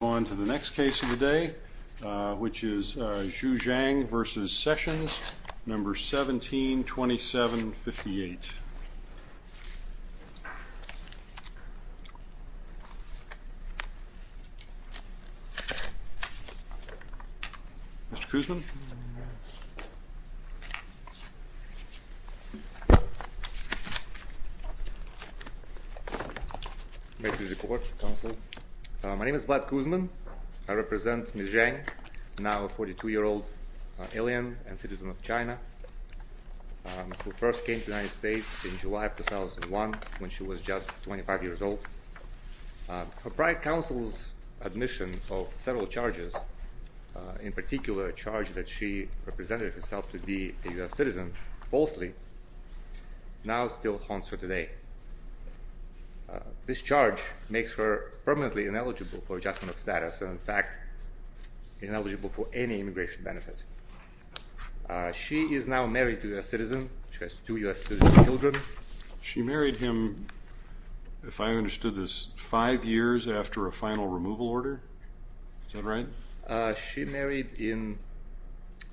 Let's move on to the next case of the day, which is Zhu Zhang v. Sessions, No. 172758. Mr. Kuzman. My name is Vlad Kuzman. I represent Ms. Zhang, now a 42-year-old alien and citizen of China, who first came to the United States in July of 2001, when she was just 25 years old. Her prior counsel's admission of several charges, in particular a charge that she represented herself to be a U.S. citizen, falsely, now still haunts her today. This charge makes her permanently ineligible for adjustment of status and, in fact, ineligible for any immigration benefit. She is now married to a U.S. citizen. She has two U.S. citizen children. She married him, if I understood this, five years after a final removal order? Is that right? She married in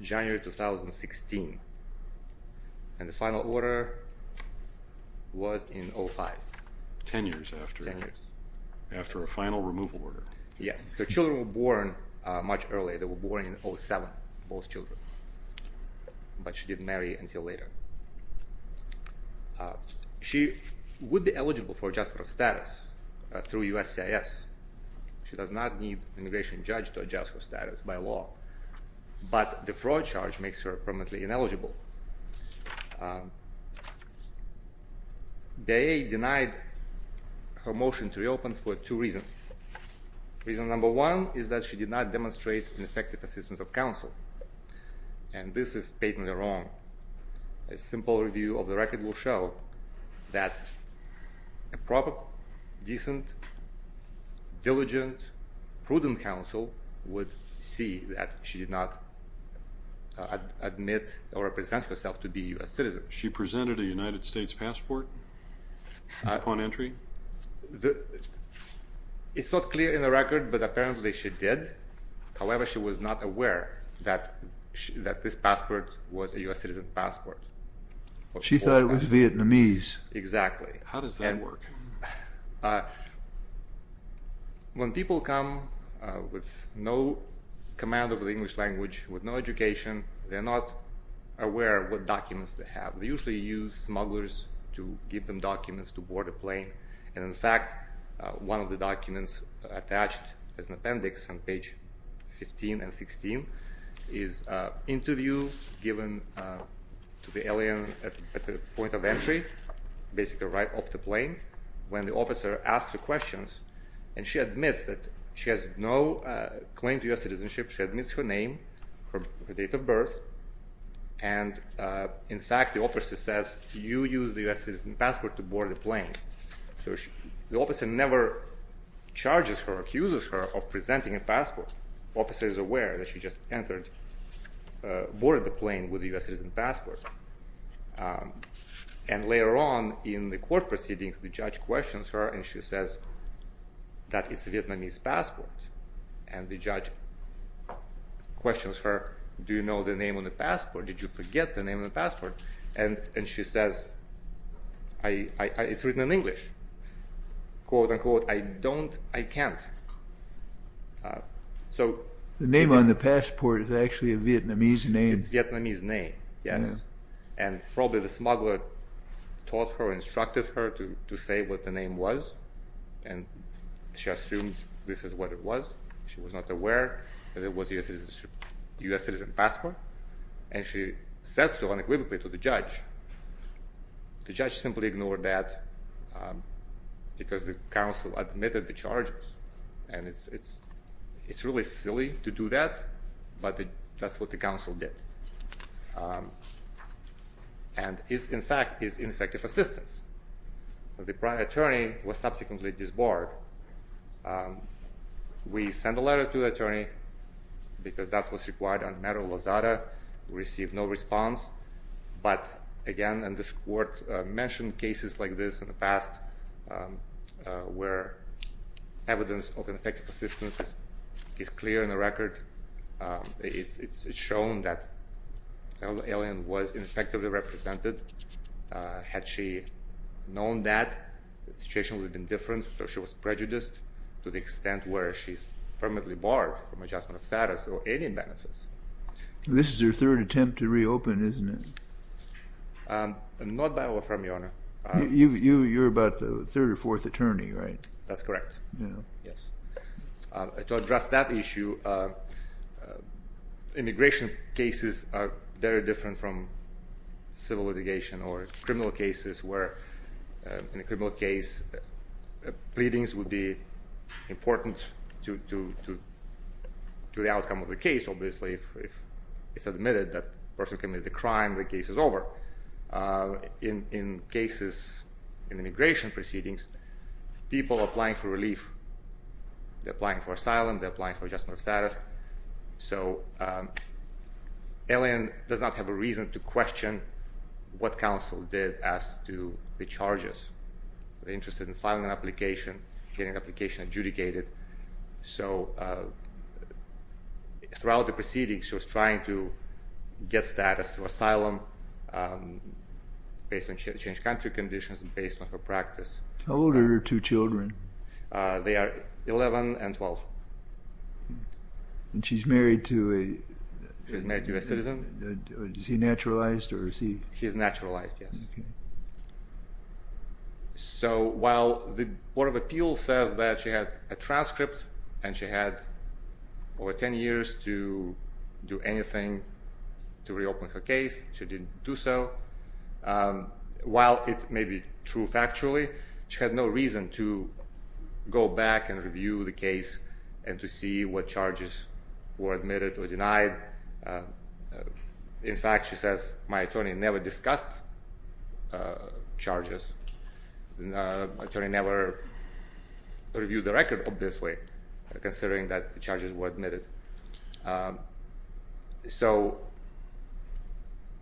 January 2016, and the final order was in 2005. Ten years after a final removal order. Yes. Her children were born much earlier. They were born in 2007, both children. But she didn't marry until later. She would be eligible for adjustment of status through USCIS. She does not need an immigration judge to adjust her status by law. But the fraud charge makes her permanently ineligible. BIA denied her motion to reopen for two reasons. Reason number one is that she did not demonstrate an effective assistance of counsel. And this is patently wrong. A simple review of the record will show that a proper, decent, diligent, prudent counsel would see that she did not admit or present herself to be a U.S. citizen. She presented a United States passport upon entry? It's not clear in the record, but apparently she did. However, she was not aware that this passport was a U.S. citizen passport. She thought it was Vietnamese. Exactly. How does that work? When people come with no command of the English language, with no education, they're not aware of what documents they have. They usually use smugglers to give them documents to board a plane. And, in fact, one of the documents attached as an appendix on page 15 and 16 is an interview given to the alien at the point of entry, basically right off the plane, when the officer asks her questions. And she admits that she has no claim to U.S. citizenship. She admits her name, her date of birth. And, in fact, the officer says, you used a U.S. citizen passport to board a plane. So the officer never charges her or accuses her of presenting a passport. The officer is aware that she just entered, boarded the plane with a U.S. citizen passport. And later on in the court proceedings, the judge questions her and she says that it's a Vietnamese passport. And the judge questions her, do you know the name on the passport? Did you forget the name on the passport? And she says, it's written in English. Quote, unquote, I don't, I can't. The name on the passport is actually a Vietnamese name. It's a Vietnamese name, yes. And probably the smuggler taught her, instructed her to say what the name was. And she assumes this is what it was. She was not aware that it was a U.S. citizen passport. And she says so unequivocally to the judge. The judge simply ignored that because the counsel admitted the charges. And it's really silly to do that, but that's what the counsel did. And it, in fact, is ineffective assistance. The prime attorney was subsequently disbarred. We sent a letter to the attorney because that's what's required on matter of lazada. We received no response. But, again, and this court mentioned cases like this in the past where evidence of ineffective assistance is clear in the record. It's shown that the alien was ineffectively represented. Had she known that, the situation would have been different. So she was prejudiced to the extent where she's permanently barred from adjustment of status or any benefits. This is her third attempt to reopen, isn't it? Not that I'll affirm, Your Honor. You're about the third or fourth attorney, right? That's correct. Yes. To address that issue, immigration cases are very different from civil litigation or criminal cases where, in a criminal case, pleadings would be important to the outcome of the case, obviously. If it's admitted that the person committed the crime, the case is over. In cases in immigration proceedings, people are applying for relief. They're applying for asylum. They're applying for adjustment of status. So alien does not have a reason to question what counsel did as to the charges. They're interested in filing an application, getting the application adjudicated. So throughout the proceedings, she was trying to get status to asylum based on changed country conditions and based on her practice. How old are her two children? They are 11 and 12. And she's married to a… She's married to a citizen. Is he naturalized or is he… He's naturalized, yes. So while the Board of Appeals says that she had a transcript and she had over 10 years to do anything to reopen her case, she didn't do so. While it may be true factually, she had no reason to go back and review the case and to see what charges were admitted or denied. In fact, she says, my attorney never discussed charges. My attorney never reviewed the record, obviously, considering that the charges were admitted. So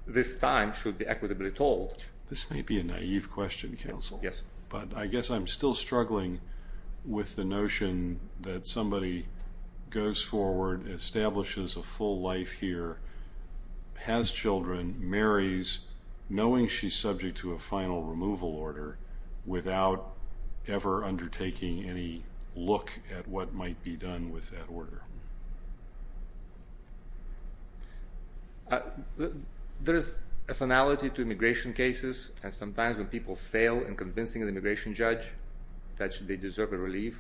this time should be equitably told. This may be a naive question, counsel. Yes. But I guess I'm still struggling with the notion that somebody goes forward, establishes a full life here, has children, marries, knowing she's subject to a final removal order, without ever undertaking any look at what might be done with that order. There is a finality to immigration cases. And sometimes when people fail in convincing an immigration judge that they deserve a relief,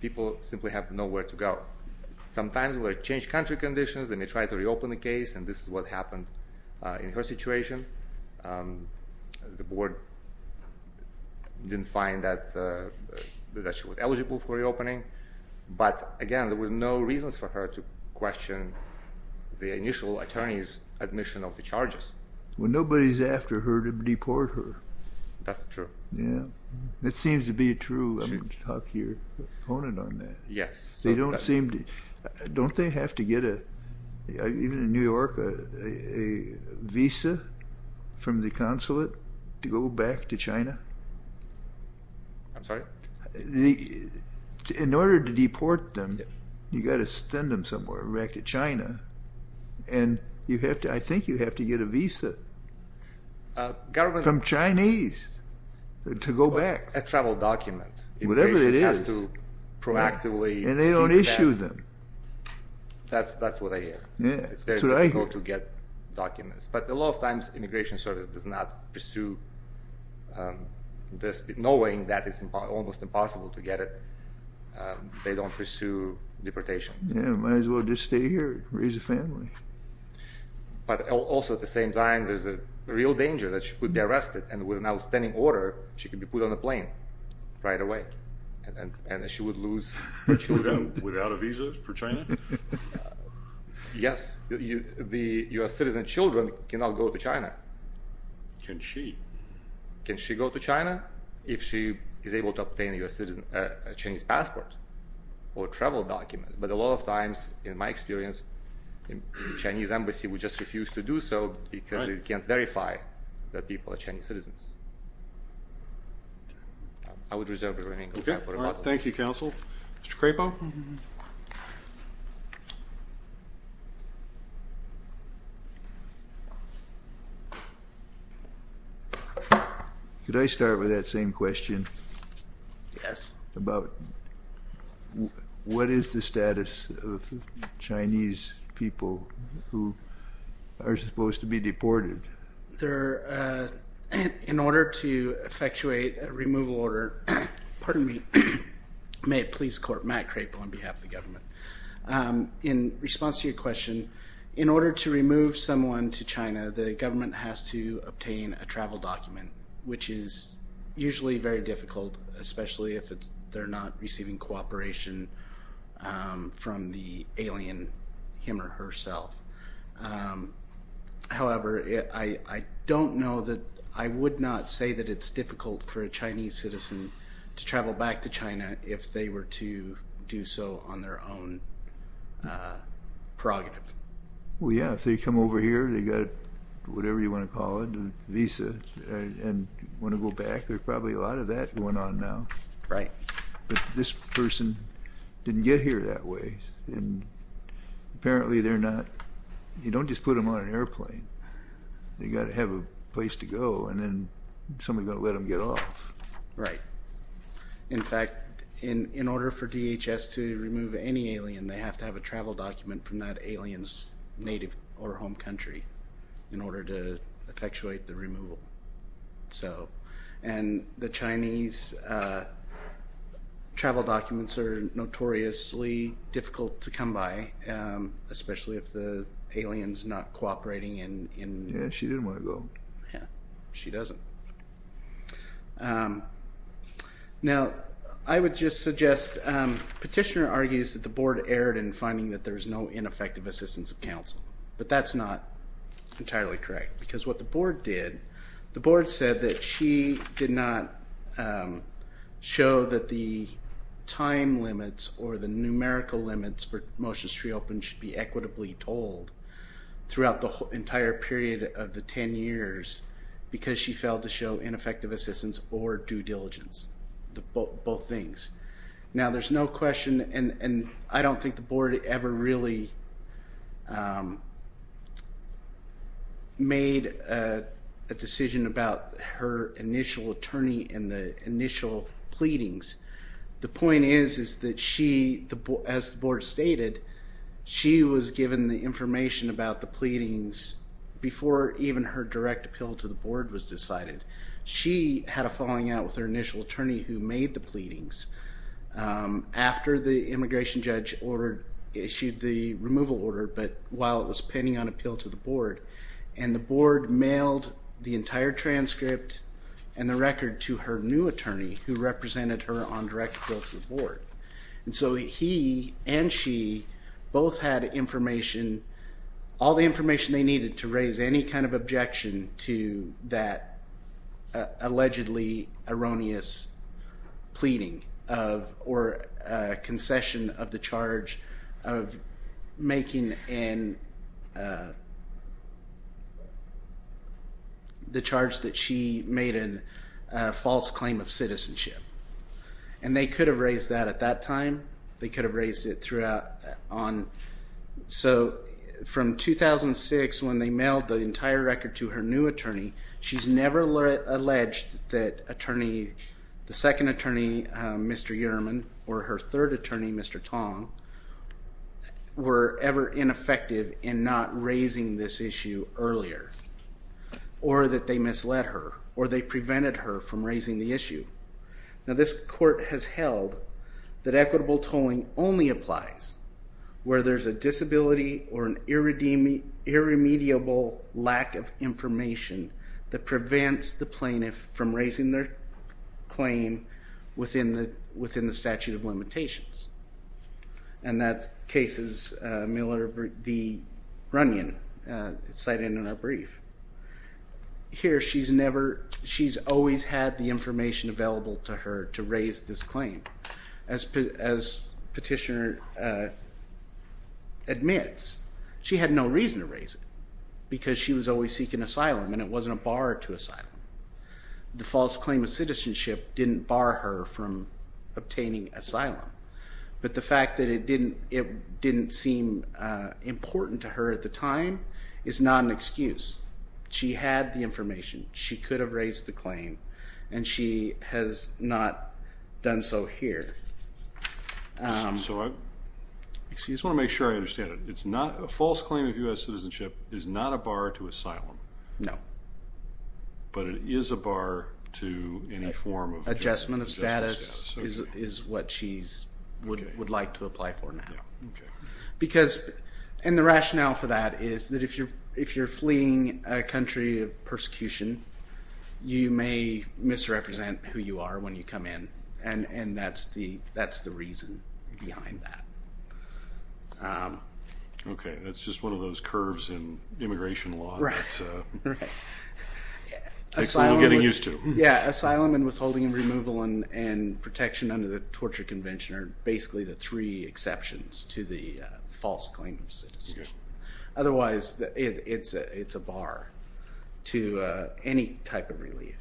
people simply have nowhere to go. Sometimes when they change country conditions, they may try to reopen the case, and this is what happened in her situation. The board didn't find that she was eligible for reopening. But again, there were no reasons for her to question the initial attorney's admission of the charges. Well, nobody's after her to deport her. That's true. Yeah. That seems to be true. Talk to your opponent on that. Yes. Don't they have to get, even in New York, a visa from the consulate to go back to China? I'm sorry? In order to deport them, you've got to send them somewhere back to China, and I think you have to get a visa from Chinese to go back. A travel document. Whatever it is. Immigration has to proactively seek that. And they don't issue them. That's what I hear. Yeah, that's what I hear. But a lot of times, immigration service does not pursue this, knowing that it's almost impossible to get it. They don't pursue deportation. Yeah, might as well just stay here, raise a family. But also, at the same time, there's a real danger that she could be arrested, and with an outstanding order, she could be put on a plane right away. And she would lose her children. Without a visa for China? Yes. Your citizen children cannot go to China. Can she? Can she go to China if she is able to obtain a Chinese passport or travel document? But a lot of times, in my experience, the Chinese embassy would just refuse to do so because they can't verify that people are Chinese citizens. I would reserve the remaining time for rebuttal. Thank you, Counsel. Mr. Crapo? Thank you. Could I start with that same question? Yes. About what is the status of Chinese people who are supposed to be deported? In order to effectuate a removal order, in response to your question, in order to remove someone to China, the government has to obtain a travel document, which is usually very difficult, especially if they're not receiving cooperation from the alien him or herself. However, I don't know that – I would not say that it's difficult for a Chinese citizen to travel back to China if they were to do so on their own prerogative. Well, yeah. If they come over here, they've got whatever you want to call it, a visa, and want to go back, there's probably a lot of that going on now. Right. But this person didn't get here that way. Apparently, they're not – you don't just put them on an airplane. They've got to have a place to go, and then somebody's got to let them get off. Right. In fact, in order for DHS to remove any alien, they have to have a travel document from that alien's native or home country in order to effectuate the removal. And the Chinese travel documents are notoriously difficult to come by, especially if the alien's not cooperating in – Yeah, she didn't want to go. Yeah, she doesn't. Now, I would just suggest – Petitioner argues that the board erred in finding that there's no ineffective assistance of counsel. But that's not entirely correct. Because what the board did, the board said that she did not show that the time limits or the numerical limits for motions to reopen should be equitably told throughout the entire period of the 10 years because she failed to show ineffective assistance or due diligence, both things. Now, there's no question – and I don't think the board ever really made a decision about her initial attorney and the initial pleadings. The point is, is that she – as the board stated, she was given the information about the pleadings before even her direct appeal to the board was decided. She had a falling out with her initial attorney who made the pleadings after the immigration judge issued the removal order, but while it was pending on appeal to the board. And the board mailed the entire transcript and the record to her new attorney who represented her on direct appeal to the board. And so he and she both had information – all the information they needed to raise any kind of objection to that allegedly erroneous pleading or concession of the charge of making an – the charge that she made a false claim of citizenship. And they could have raised that at that time. They could have raised it throughout on – so from 2006 when they mailed the entire record to her new attorney, she's never alleged that attorney – the second attorney, Mr. Uhrman, or her third attorney, Mr. Tong, were ever ineffective in not raising this issue earlier or that they misled her or they prevented her from raising the issue. Now this court has held that equitable tolling only applies where there's a disability or an irremediable lack of information that prevents the plaintiff from raising their claim within the statute of limitations. And that's cases Miller v. Runyon cited in our brief. Here she's never – she's always had the information available to her to raise this claim. As petitioner admits, she had no reason to raise it because she was always seeking asylum and it wasn't a bar to asylum. The false claim of citizenship didn't bar her from obtaining asylum. But the fact that it didn't seem important to her at the time is not an excuse. She had the information. She could have raised the claim and she has not done so here. So I just want to make sure I understand it. It's not – a false claim of U.S. citizenship is not a bar to asylum. No. But it is a bar to any form of – is what she would like to apply for now. Because – and the rationale for that is that if you're fleeing a country of persecution, you may misrepresent who you are when you come in and that's the reason behind that. Okay. That's just one of those curves in immigration law that takes a little getting used to. Yeah, asylum and withholding and removal and protection under the torture convention are basically the three exceptions to the false claim of citizenship. Otherwise, it's a bar to any type of relief.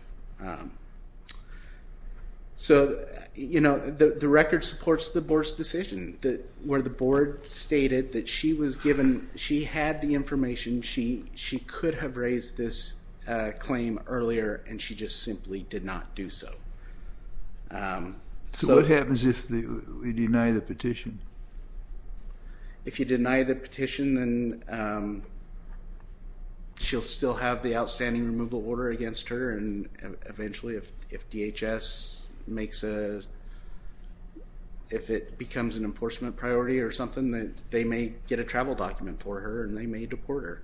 So the record supports the board's decision where the board stated that she was given – she had the information. She could have raised this claim earlier and she just simply did not do so. So what happens if we deny the petition? If you deny the petition, then she'll still have the outstanding removal order against her and eventually if DHS makes a – if it becomes an enforcement priority or something, then they may get a travel document for her and they may deport her.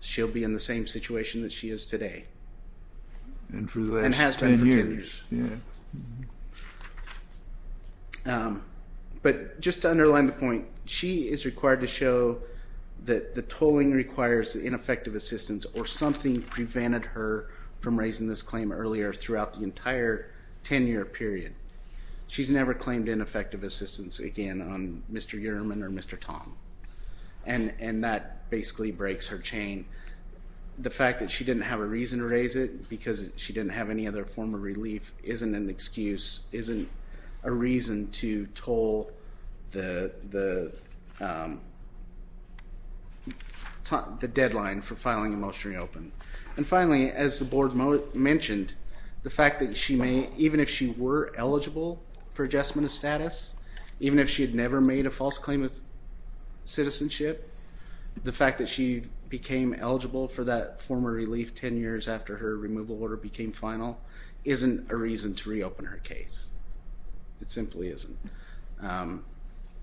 She'll be in the same situation that she is today. And for the last 10 years. And has been for 10 years. Yeah. But just to underline the point, she is required to show that the tolling requires ineffective assistance or something prevented her from raising this claim earlier throughout the entire 10-year period. She's never claimed ineffective assistance again on Mr. Uhrman or Mr. Tom. And that basically breaks her chain. The fact that she didn't have a reason to raise it because she didn't have any other form of relief isn't an excuse, isn't a reason to toll the deadline for filing a motion to reopen. And finally, as the board mentioned, the fact that she may, even if she were eligible for adjustment of status, even if she had never made a false claim of citizenship, the fact that she became eligible for that former relief 10 years after her removal order became final isn't a reason to reopen her case. It simply isn't.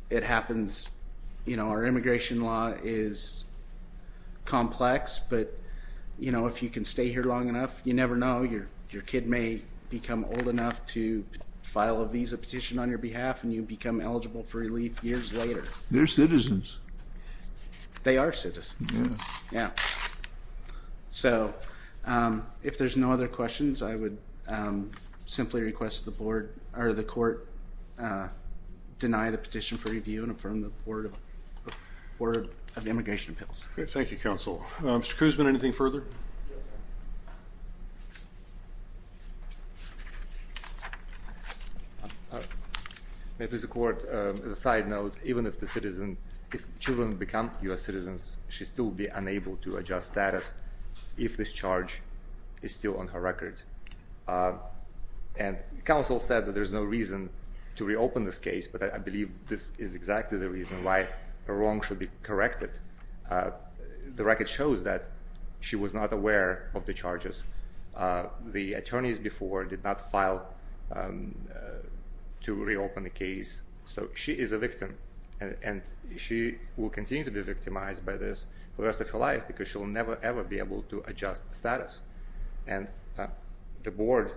It happens. You know, our immigration law is complex. But, you know, if you can stay here long enough, you never know. Your kid may become old enough to file a visa petition on your behalf and you become eligible for relief years later. They're citizens. They are citizens. Yeah. So if there's no other questions, I would simply request the board or the court deny the petition for review and affirm the Board of Immigration Appeals. Thank you, Counsel. Mr. Koosman, anything further? Maybe as a court, as a side note, even if the citizen, if children become U.S. citizens, she'd still be unable to adjust status if this charge is still on her record. And Counsel said that there's no reason to reopen this case, but I believe this is exactly the reason why her wrong should be corrected. The record shows that she was not aware of the charges. The attorneys before did not file to reopen the case. So she is a victim, and she will continue to be victimized by this for the rest of her life because she'll never, ever be able to adjust status. And the board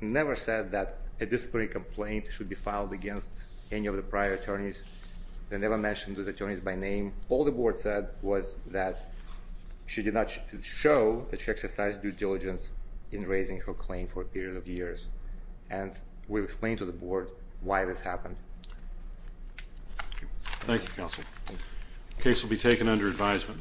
never said that a disciplinary complaint should be filed against any of the prior attorneys. They never mentioned those attorneys by name. All the board said was that she did not show that she exercised due diligence in raising her claim for a period of years. And we've explained to the board why this happened. Thank you, Counsel. The case will be taken under advisement.